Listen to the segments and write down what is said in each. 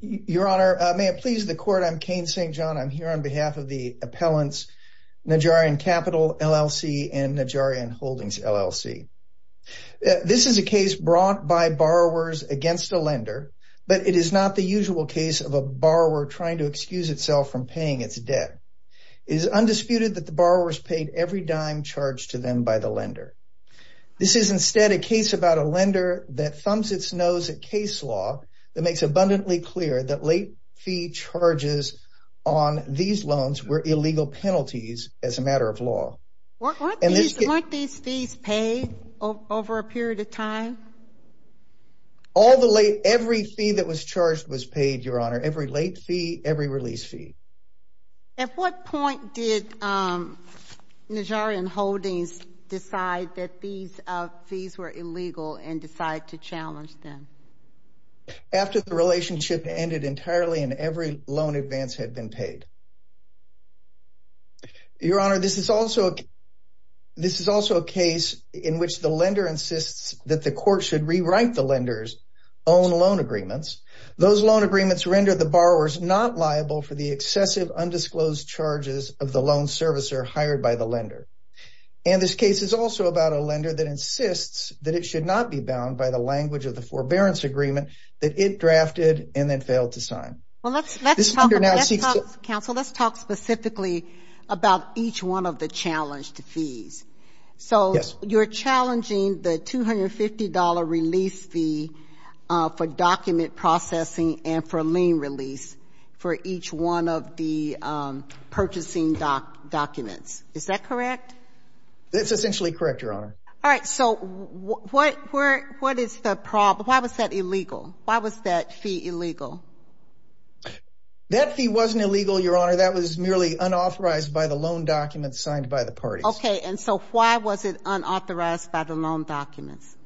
Your Honor, may it please the court, I'm Kane St. John. I'm here on behalf of the appellants Najarian Capital LLC and Najarian Holdings LLC. This is a case brought by borrowers against a lender, but it is not the usual case of a borrower trying to excuse itself from paying its debt. It is undisputed that the borrowers paid every dime charged to them by the lender. This is instead a lender that thumbs its nose at case law that makes abundantly clear that late fee charges on these loans were illegal penalties as a matter of law. Weren't these fees paid over a period of time? All the late, every fee that was charged was paid, Your Honor. Every late fee, every release fee. At what point did decide to challenge them? After the relationship ended entirely and every loan advance had been paid. Your Honor, this is also a case in which the lender insists that the court should rewrite the lender's own loan agreements. Those loan agreements render the borrowers not liable for the excessive undisclosed charges of the loan servicer hired by the lender. And this case is also about a lender that insists that it should not be bound by the language of the forbearance agreement that it drafted and then failed to sign. Well, let's talk specifically about each one of the challenged fees. So you're challenging the $250 release fee for document processing and for lien release for each one of the purchasing documents. Is that correct? That's essentially correct, Your Honor. All right, so what is the problem? Why was that illegal? Why was that fee illegal? That fee wasn't illegal, Your Honor. That was merely unauthorized by the loan documents signed by the parties. Okay, and so why was it unauthorized by the loan documents?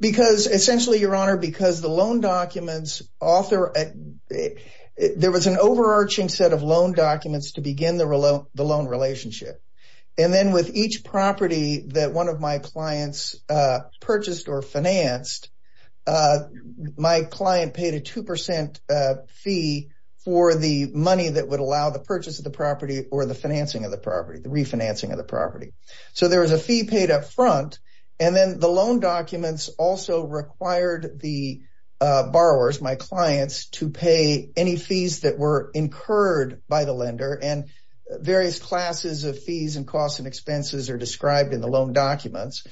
Because essentially, Your Honor, because the loan documents author, there was an overarching set of each property that one of my clients purchased or financed, my client paid a 2% fee for the money that would allow the purchase of the property or the financing of the property, the refinancing of the property. So there was a fee paid up front, and then the loan documents also required the borrowers, my clients, to pay any fees that were incurred by the lender. And various classes of fees and costs and expenses are described in the loan documents.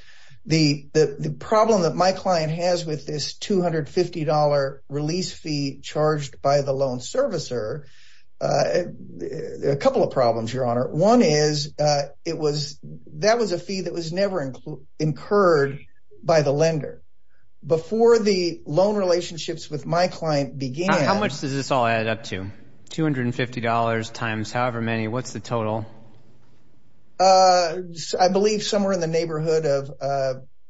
The problem that my client has with this $250 release fee charged by the loan servicer, a couple of problems, Your Honor. One is, that was a fee that was never incurred by the lender. Before the loan relationships with my client began... How much does this all add up to? $250 times however many, what's the total? I believe somewhere in the neighborhood of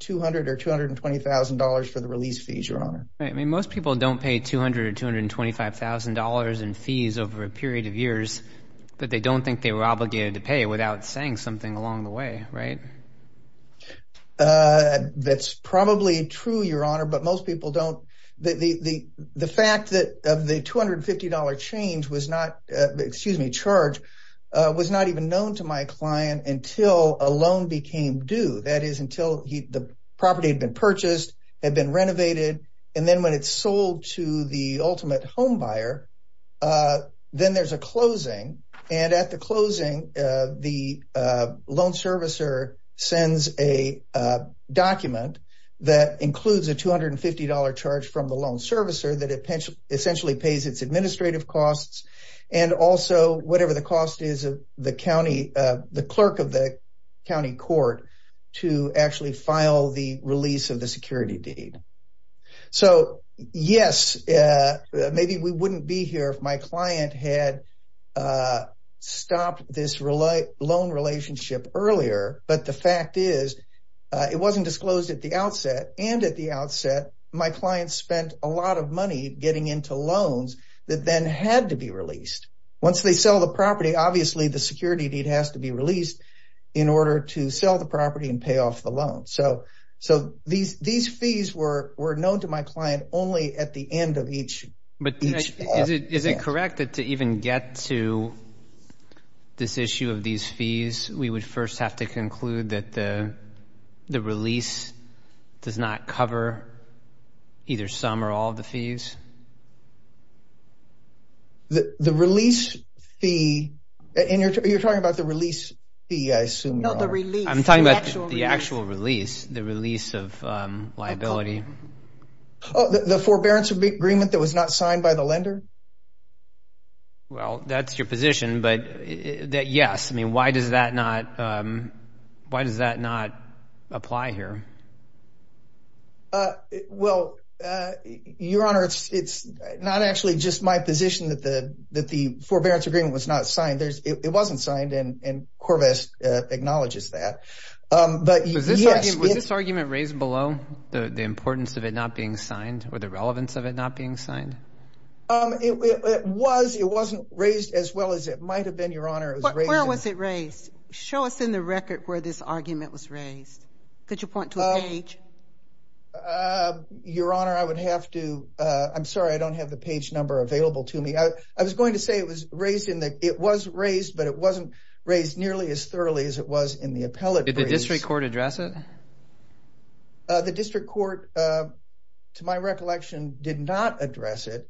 $200,000 or $220,000 for the release fees, Your Honor. I mean, most people don't pay $200,000 or $225,000 in fees over a period of years that they don't think they were obligated to pay without saying something along the way, right? That's probably true, Your Honor, but most people don't. The fact that of the $250 change was not, excuse me, charge, was not even known to my client until a loan became due. That is, until the property had been purchased, had been renovated, and then when it's sold to the ultimate homebuyer, then there's a closing. And at the closing, the loan servicer sends a document that includes a $250 charge from the loan servicer that it essentially pays its administrative costs and also whatever the cost is of the clerk of the county court to actually file the release of the security deed. So, yes, maybe we wouldn't be here if my client had stopped this loan relationship earlier, but the fact is, it wasn't disclosed at the outset, and at the time, it had to be released. Once they sell the property, obviously, the security deed has to be released in order to sell the property and pay off the loan. So, these fees were known to my client only at the end of each... But is it correct that to even get to this issue of these fees, we would first have to conclude that the release does not cover either some or all of the release fee? And you're talking about the release fee, I assume? No, the release. I'm talking about the actual release, the release of liability. Oh, the forbearance agreement that was not signed by the lender? Well, that's your position, but yes. I mean, why does that not apply here? Well, Your Honor, it's not actually just my position that the forbearance agreement was not signed. It wasn't signed, and Corvette acknowledges that. Was this argument raised below, the importance of it not being signed or the relevance of it not being signed? It was. It wasn't raised as well as it might have been, Your Honor. Where was it raised? Show us in the record where this argument was raised. Could you point to a page? Your Honor, I would have to, I'm sorry, I don't have the page number available to me. I was going to say it was raised in the, it was raised, but it wasn't raised nearly as thoroughly as it was in the appellate release. Did the district court address it? The district court, to my recollection, did not address it.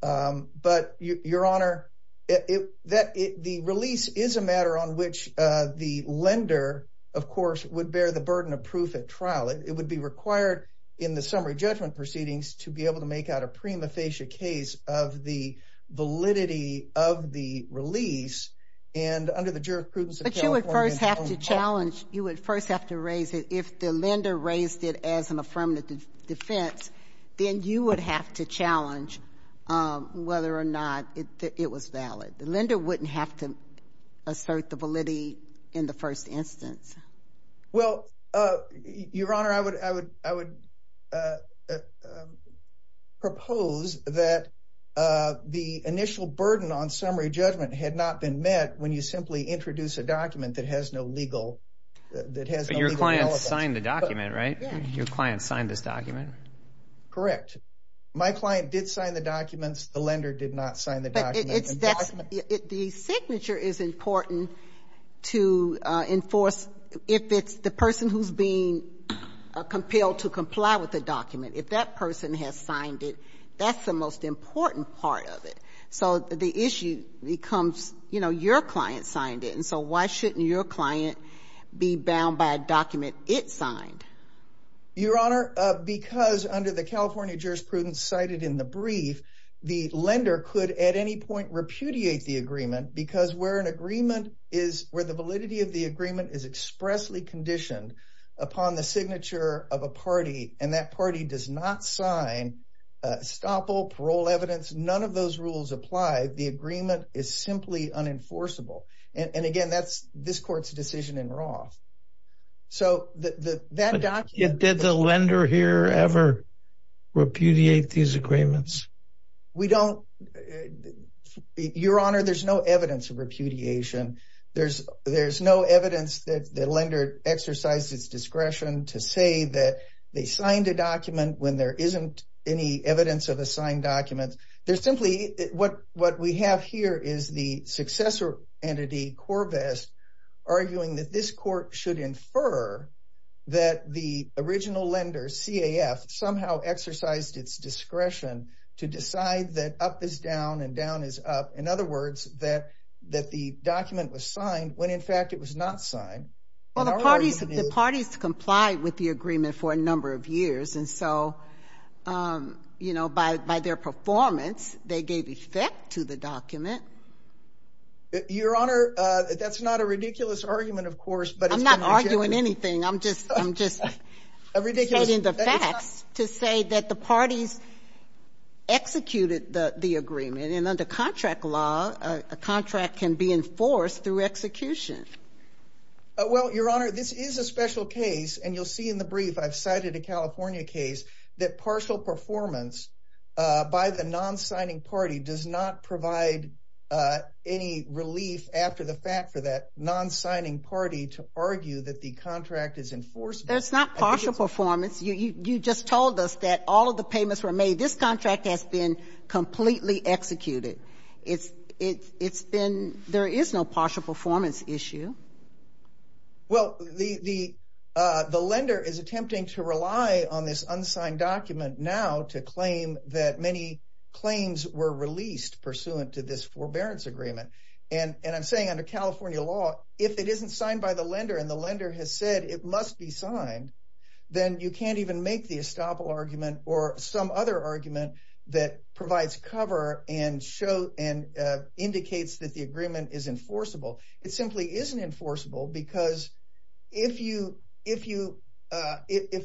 But Your Honor, the release is a matter on which the lender, of course, would bear the burden of proof at trial. It would be required in the summary judgment proceedings to be able to make out a prima facie case of the validity of the release. And under the jurisprudence of California- But you would first have to challenge, you would first have to raise it. If the lender raised it as an affirmative defense, then you would have to challenge whether or not it was valid. The lender wouldn't have to assert the validity in the first instance. Well, Your Honor, I would propose that the initial burden on summary judgment had not been met when you simply introduce a document that has no legal- But your client signed the document, right? Yeah. Your client signed this document. Correct. My client did sign the documents. The lender did not sign the documents. The signature is important to enforce if it's the person who's being compelled to comply with the document. If that person has signed it, that's the most important part of it. So the issue becomes, you know, your client signed it. And so why shouldn't your client be bound by a document it signed? Your Honor, because under the California jurisprudence cited in the brief, the lender could at any point repudiate the agreement, because where the validity of the agreement is expressly conditioned upon the signature of a party and that party does not sign estoppel, parole evidence, none of those rules apply. The agreement is simply unenforceable. And again, that's this court's decision in Roth. So that document- Did the lender here ever repudiate these agreements? We don't. Your Honor, there's no evidence of repudiation. There's no evidence that the lender exercised its discretion to say that they signed a document when there isn't any evidence of a signed document. There's simply- What we have here is the successor entity, Corvest, arguing that this court should infer that the original lender, CAF, somehow exercised its discretion to decide that up is down and down is up. In other words, that the document was signed when, in fact, it was not signed. Well, the parties complied with the agreement for a number of years. And so, you know, by their performance, they gave effect to the document. Your Honor, that's not a ridiculous argument, of course, but- I'm not arguing anything. I'm just stating the facts. To say that the parties executed the agreement. And under contract law, a contract can be enforced through execution. Well, Your Honor, this is a special case. And you'll see in the brief, I've cited a California case that partial performance by the non-signing party does not provide any relief after the fact for that non-signing party to argue that the contract is enforced. That's not partial performance. You just told us that all of the payments were made. This contract has been completely executed. There is no partial performance issue. Well, the lender is attempting to rely on this unsigned document now to claim that many claims were released pursuant to this forbearance agreement. And I'm saying under California law, if it isn't signed by the lender and the lender has said it must be signed, then you can't even make the estoppel argument or some other argument that provides cover and indicates that the agreement is enforceable. It simply isn't enforceable because if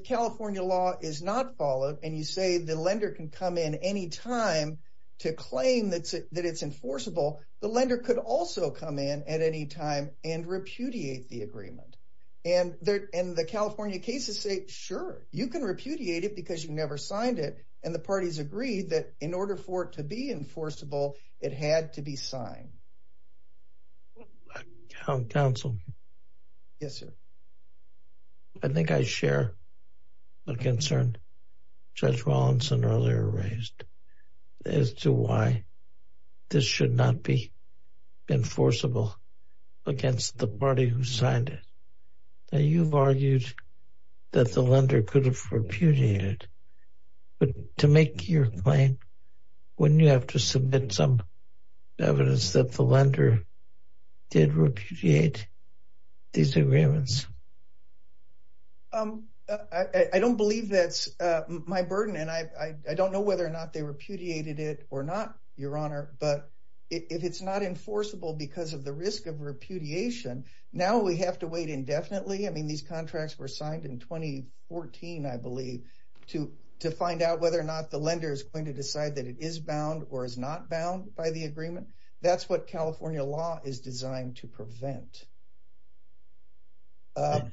California law is not followed and you say the lender can come in any time to claim that it's enforceable, the lender could also come in at any time and repudiate the agreement. And the California cases say, sure, you can repudiate it because you never signed it. And the parties agree that in order for it to be enforceable, it had to be signed. Counsel. Yes, sir. I think I share a concern Judge Rawlinson earlier raised as to why this should not be enforceable against the party who signed it. Now, you've argued that the lender could have repudiated, but to make your claim, wouldn't you have to submit some evidence that the lender did repudiate these agreements? I don't believe that's my burden, and I don't know whether or not they repudiated it or not, Your Honor, but if it's not enforceable because of the risk of repudiation, now we have to wait indefinitely. I mean, these contracts were signed in 2014, I believe, to find out whether or not the lender is going to decide that it is bound or is not bound by the agreement. That's what California law is designed to prevent. I'm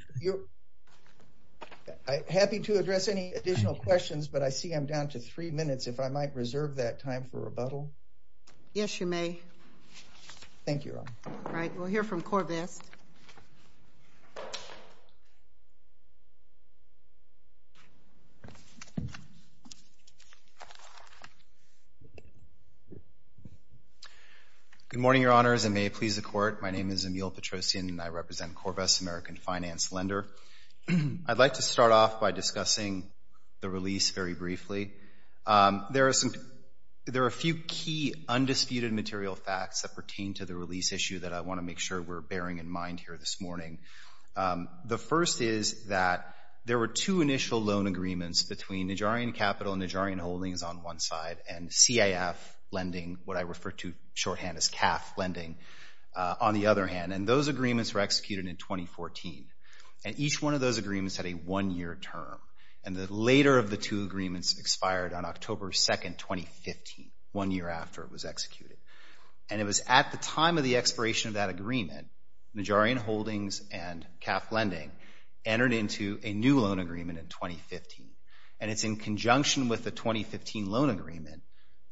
happy to address any additional questions, but I see I'm down to three minutes. If I might reserve that time for rebuttal. Yes, you may. Thank you, Your Honor. All right. We'll hear from Corvast. Good morning, Your Honors, and may it please the Court. My name is Emile Petrosian. I represent Corvast, American Finance Lender. I'd like to start off by discussing the release very briefly. There are a few key undisputed material facts that pertain to the release issue that I want to make sure we're bearing in mind here this morning. The first is that there were two initial loan agreements between Nijarian Capital and Nijarian Holdings on one side and CIF lending, what I refer to shorthand as CAF lending, on the other hand. And those agreements were executed in 2014. And each one of those agreements had a one-year term. And the later of the two agreements expired on October 2, 2015, one year after it was executed. And it was at the time of the expiration of that agreement, Nijarian Holdings and CAF lending entered into a new loan agreement in 2015. And it's in conjunction with the 2015 loan agreement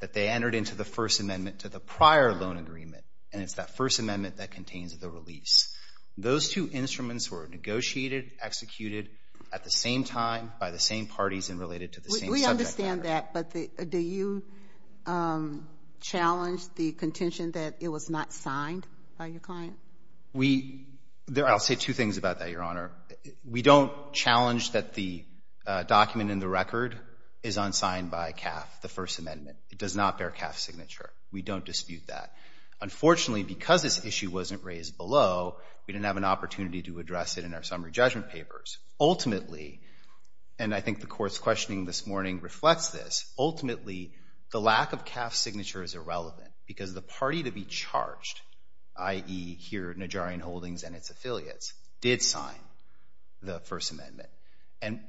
that they entered into the First Amendment to the prior loan agreement. And it's that First Amendment that contains the release. Those two instruments were negotiated, executed at the same time by the same parties and related to the same subject matter. We understand that. But do you challenge the contention that it was not signed by your client? We — I'll say two things about that, Your Honor. We don't challenge that the document in the record is unsigned by CAF, the First Amendment. It does not bear CAF's signature. We don't dispute that. Unfortunately, because this issue wasn't raised below, we didn't have an opportunity to address it in our summary judgment papers. Ultimately — and I think the Court's questioning this morning reflects this — ultimately, the lack of CAF's signature is irrelevant because the party to be charged, i.e., here Nijarian Holdings and its affiliates, did sign the First Amendment.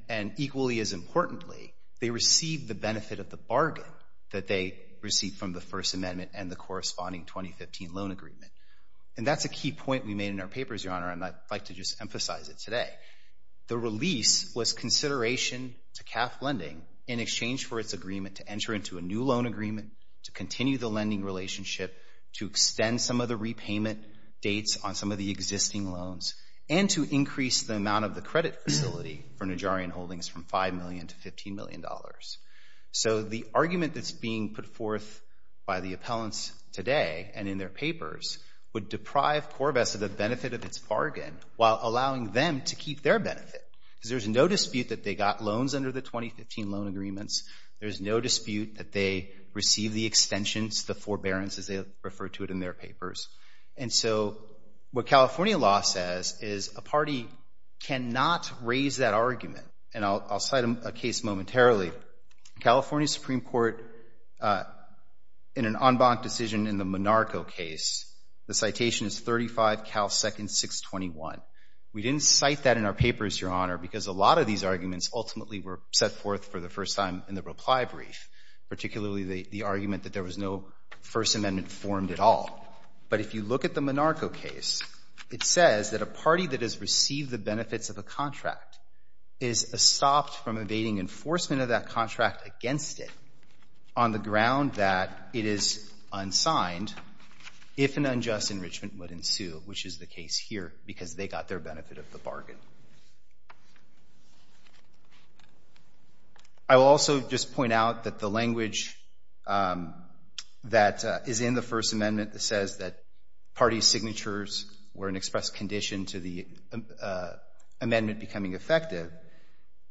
And equally as importantly, they received the benefit of the bargain that they received from the First Amendment and the corresponding 2015 loan agreement. And that's a key point we made in our papers, Your Honor, and I'd like to just emphasize it today. The release was consideration to CAF Lending in exchange for its agreement to enter into a new loan agreement, to continue the lending relationship, to extend some of the repayment dates on some of the existing loans, and to increase the amount of the credit facility for Nijarian Holdings from $5 million to $15 million. So the argument that's being put forth by the appellants today and in their papers would deprive Corvettes of the benefit of its bargain while allowing them to keep their benefit. Because there's no dispute that they got loans under the 2015 loan agreements. There's no dispute that they received the extensions, the forbearance, as they refer to it in their papers. And so what California law says is a party cannot raise that argument. And I'll cite a case momentarily. California Supreme Court, in an en banc decision in the Monarco case, the citation is 35 Cal Second 621. We didn't cite that in our papers, Your Honor, because a lot of these arguments ultimately were set forth for the first time in the reply brief, particularly the argument that there was no First Amendment formed at all. But if you look at the Monarco case, it says that a party that has received the benefits of a contract is stopped from evading enforcement of that contract against it on the ground that it is unsigned if an unjust enrichment would ensue, which is the case here because they got their benefit of the bargain. I will also just point out that the language that is in the First Amendment that says that party signatures were an express condition to the amendment becoming effective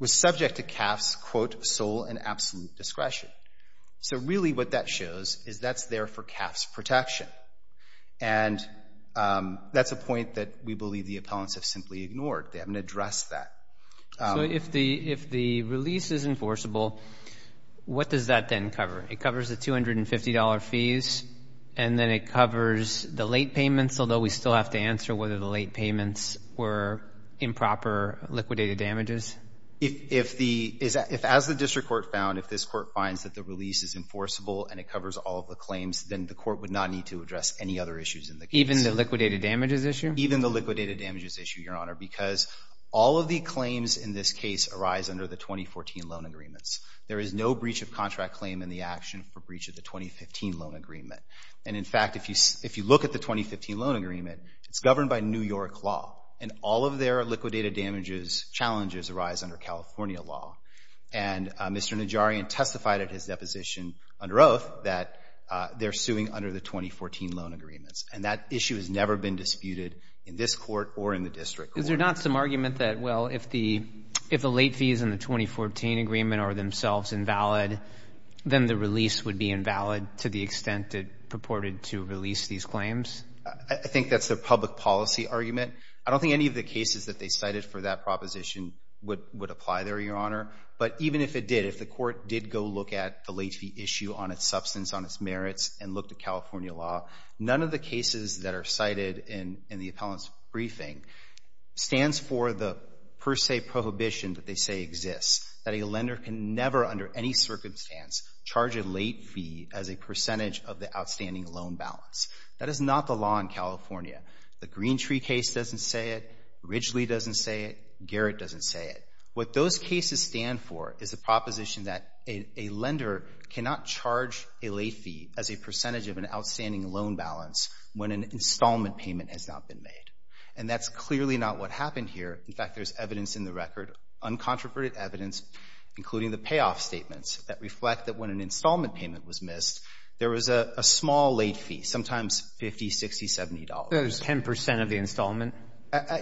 was subject to CAF's, quote, sole and absolute discretion. So really what that shows is that's there for CAF's protection. And that's a point that we believe the appellants have simply ignored. They haven't addressed that. So if the release is enforceable, what does that then cover? It covers the $250 fees. And then it covers the late payments, although we still have to answer whether the late payments were improper liquidated damages. If as the district court found, if this court finds that the release is enforceable and it covers all of the claims, then the court would not need to address any other issues in the case. Even the liquidated damages issue? Even the liquidated damages issue, Your Honor, because all of the claims in this case arise under the 2014 loan agreements. There is no breach of contract claim in the action for breach of the 2015 loan agreement. And in fact, if you look at the 2015 loan agreement, it's governed by New York law. And all of their liquidated damages challenges arise under California law. And Mr. Najarian testified at his deposition under oath that they're suing under the 2014 loan agreements. And that issue has never been disputed in this court or in the district court. Is there not some argument that, well, if the late fees in the 2014 agreement are themselves invalid, then the release would be invalid to the extent it purported to release these claims? I think that's the public policy argument. I don't think any of the cases that they cited for that proposition would apply there, Your Honor. But even if it did, if the court did go look at the late fee issue on its substance, on its merits, and looked at California law, none of the cases that are cited in the appellant's briefing stands for the per se prohibition that they say exists, that a lender can never, under any circumstance, charge a late fee as a percentage of the outstanding loan balance. That is not the law in California. The Greentree case doesn't say it. Ridgely doesn't say it. Garrett doesn't say it. What those cases stand for is the proposition that a lender cannot charge a late fee as a percentage of an outstanding loan balance when an installment payment has not been made. And that's clearly not what happened here. In fact, there's evidence in the record, uncontroverted evidence, including the payoff statements that reflect that when an installment payment was missed, there was a small late fee, sometimes $50, $60, $70. There's 10 percent of the installment?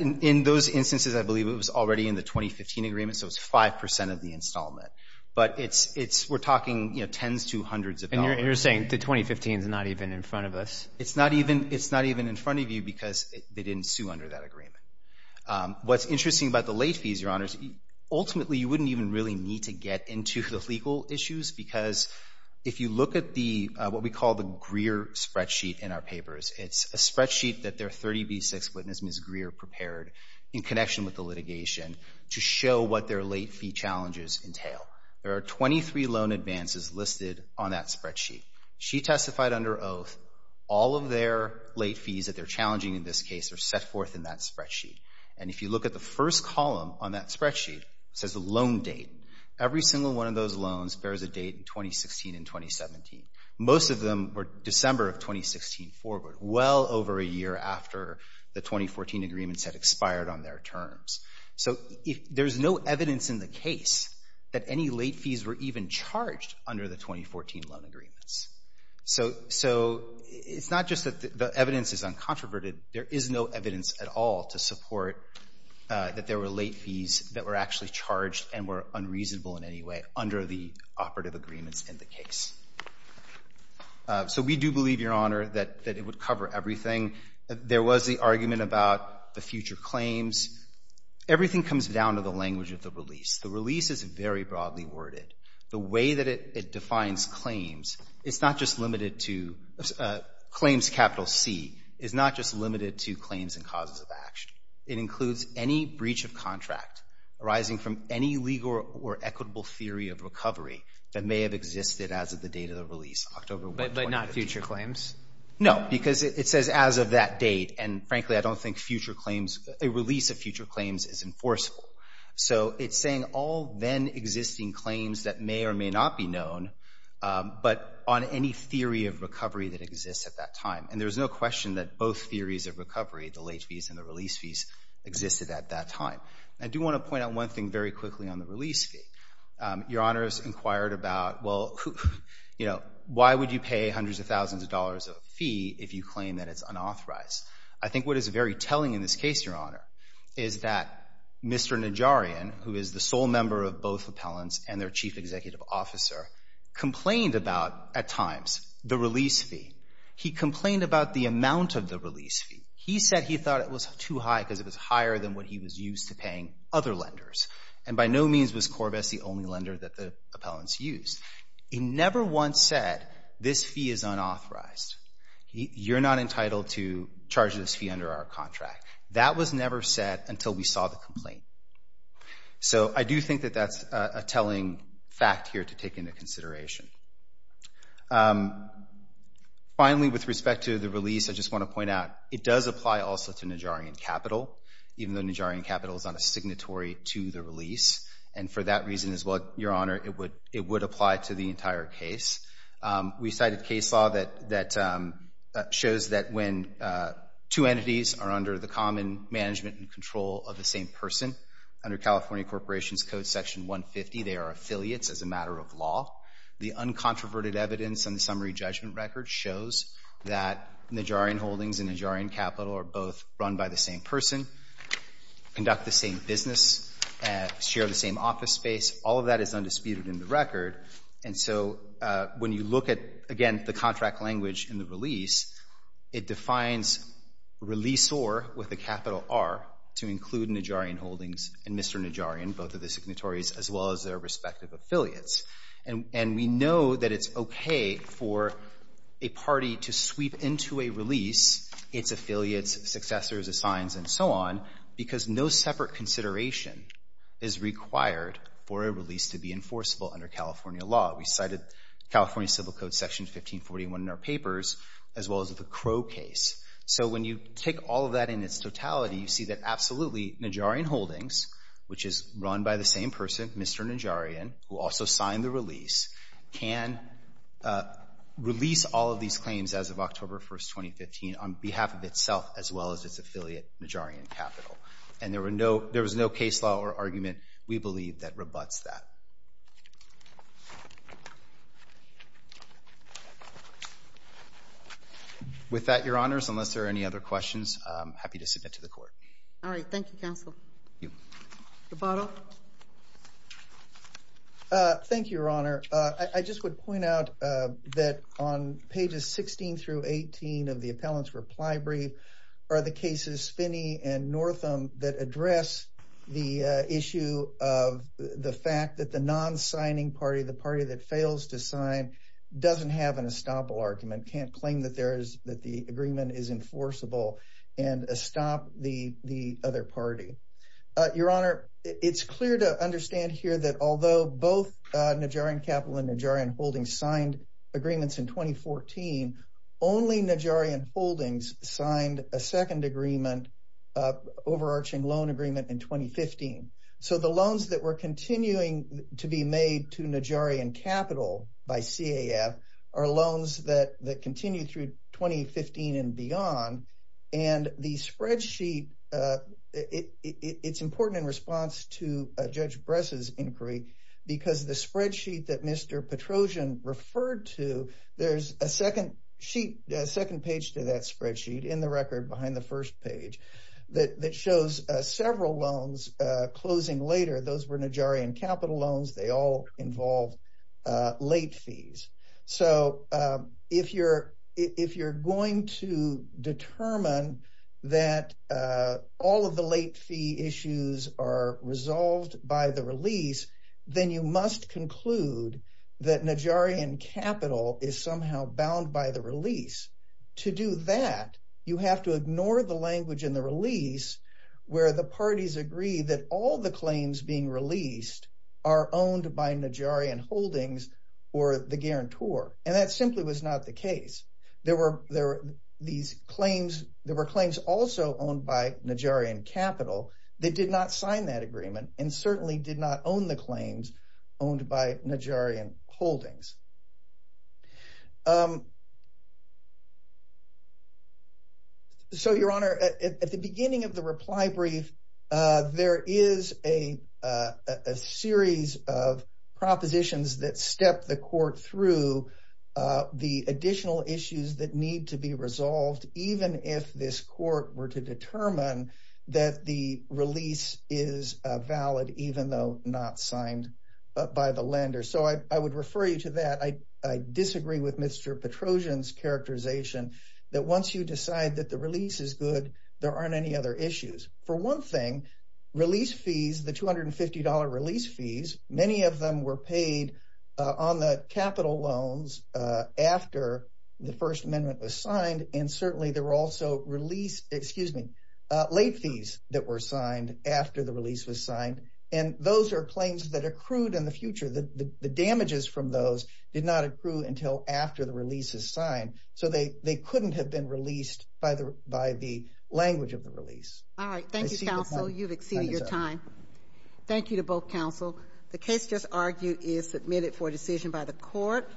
In those instances, I believe it was already in the 2015 agreement, so it's 5 percent of the installment. But it's we're talking, you know, tens to hundreds of dollars. And you're saying the 2015 is not even in front of us? It's not even in front of you because they didn't sue under that agreement. What's interesting about the late fees, Your Honors, ultimately you wouldn't even really need to get into the legal issues because if you look at what we call the Greer spreadsheet in our papers, it's a spreadsheet that their 30B6 witness, Ms. Greer, prepared in connection with the litigation to show what their late fee challenges entail. There are 23 loan advances listed on that spreadsheet. She testified under oath, all of their late fees that they're challenging in this case are set forth in that spreadsheet. And if you look at the first column on that spreadsheet, it says the loan date. Every single one of those loans bears a date in 2016 and 2017. Most of them were December of 2016 forward, well over a year after the 2014 agreements had expired on their terms. So there's no evidence in the case that any late fees were even charged under the 2014 loan agreements. So it's not just that the evidence is uncontroverted. There is no evidence at all to support that there were late fees that were actually charged and were unreasonable in any way under the operative agreements in the case. So we do believe, Your Honor, that it would cover everything. There was the argument about the future claims. Everything comes down to the language of the release. The release is very broadly worded. The way that it defines claims, it's not just limited to... Claims, capital C, is not just limited to claims and causes of action. It includes any breach of contract arising from any legal or equitable theory of recovery that may have existed as of the date of the release, October 1, 2015. But not future claims? No, because it says as of that date. And frankly, I don't think future claims, a release of future claims is enforceable. So it's saying all then existing claims that may or may not be known, but on any theory of recovery that exists at that time. And there's no question that both theories of recovery, the late fees and the release fees, existed at that time. I do want to point out one thing very quickly on the release fee. Your Honor has inquired about, well, why would you pay hundreds of thousands of dollars of fee if you claim that it's unauthorized? I think what is very telling in this case, Your Honor, is that Mr. Najarian, who is the sole member of both appellants and their chief executive officer, complained about, at times, the release fee. He complained about the amount of the release fee. He said he thought it was too high because it was higher than what he was used to paying other lenders. And by no means was Corbett the only lender that the appellants used. He never once said, this fee is unauthorized. You're not entitled to charge this fee under our contract. That was never said until we saw the complaint. So I do think that that's a telling fact here to take into consideration. Finally, with respect to the release, I just want to point out, it does apply also to Najarian Capital, even though Najarian Capital is on a signatory to the release. And for that reason as well, Your Honor, it would apply to the entire case. We cited case law that shows that when two entities are under the common management and control of the same person, under California Corporations Code Section 150, they are affiliates as a matter of law. The uncontroverted evidence on the summary judgment record shows that Najarian Holdings and Najarian Capital are both run by the same person, conduct the same business, share the same office space. All of that is undisputed in the record. And so when you look at, again, the contract language in the release, it defines release or with a capital R to include Najarian Holdings and Mr. Najarian, both of the signatories, as well as their respective affiliates. And we know that it's okay for a party to sweep into a release its affiliates, successors, assigns, and so on, because no separate consideration is required for a release to be enforceable under California law. We cited California Civil Code Section 1541 in our papers, as well as the Crow case. So when you take all of that in its totality, you see that absolutely Najarian Holdings, which is run by the same person, Mr. Najarian, who also signed the release, can release all of these claims as of October 1st, 2015, on behalf of itself, as well as its affiliate, Najarian Capital. And there was no case law or argument, we believe, that rebutts that. With that, Your Honors, unless there are any other questions, I'm happy to submit to the Court. All right. Thank you, Counsel. Thank you. Roboto? Thank you, Your Honor. I just would point out that on pages 16 through 18 of the Appellant's Reply Brief are the cases Finney and Northam that address the issue of the fact that the non-signing party, the party that fails to sign, doesn't have an estoppel argument, can't claim that the agreement is enforceable and estop the other party. Your Honor, it's clear to understand here that although both Najarian Capital and Najarian Holdings signed agreements in 2014, only Najarian Holdings signed a second agreement overarching loan agreement in 2015. So the loans that were continuing to be made to Najarian Capital by CAF are loans that continue through 2015 and beyond. And the spreadsheet, it's important in response to Judge Bress's inquiry because the spreadsheet that Mr. Petrosian referred to, there's a second page to that spreadsheet in the record behind the first page that shows several loans closing later. Those were Najarian Capital loans. They all involve late fees. So if you're going to determine that all of the late fee issues are resolved by the release, then you must conclude that Najarian Capital is somehow bound by the release. To do that, you have to ignore the language in the release where the parties agree that all the claims being released are owned by Najarian Holdings or the guarantor. And that simply was not the case. There were claims also owned by Najarian Capital that did not sign that agreement and certainly did not own the claims owned by Najarian Holdings. So, Your Honor, at the beginning of the reply brief, there is a series of propositions that step the court through the additional issues that need to be resolved, even if this court were to determine that the release is valid, even though not signed by the lender. So I would refer you to that. I disagree with Mr. Petrosian's characterization that once you decide that the release is good, there aren't any other issues. For one thing, release fees, the $250 release fees, many of them were paid on the capital loans after the First Amendment was signed. And certainly there were also late fees that were signed after the release was signed. And those are claims that accrued in the future. The damages from those did not accrue until after the release is signed. So they couldn't have been released by the language of the release. I see the point. All right, thank you, counsel. You've exceeded your time. Thank you to both counsel. The case just argued is submitted for decision by the court.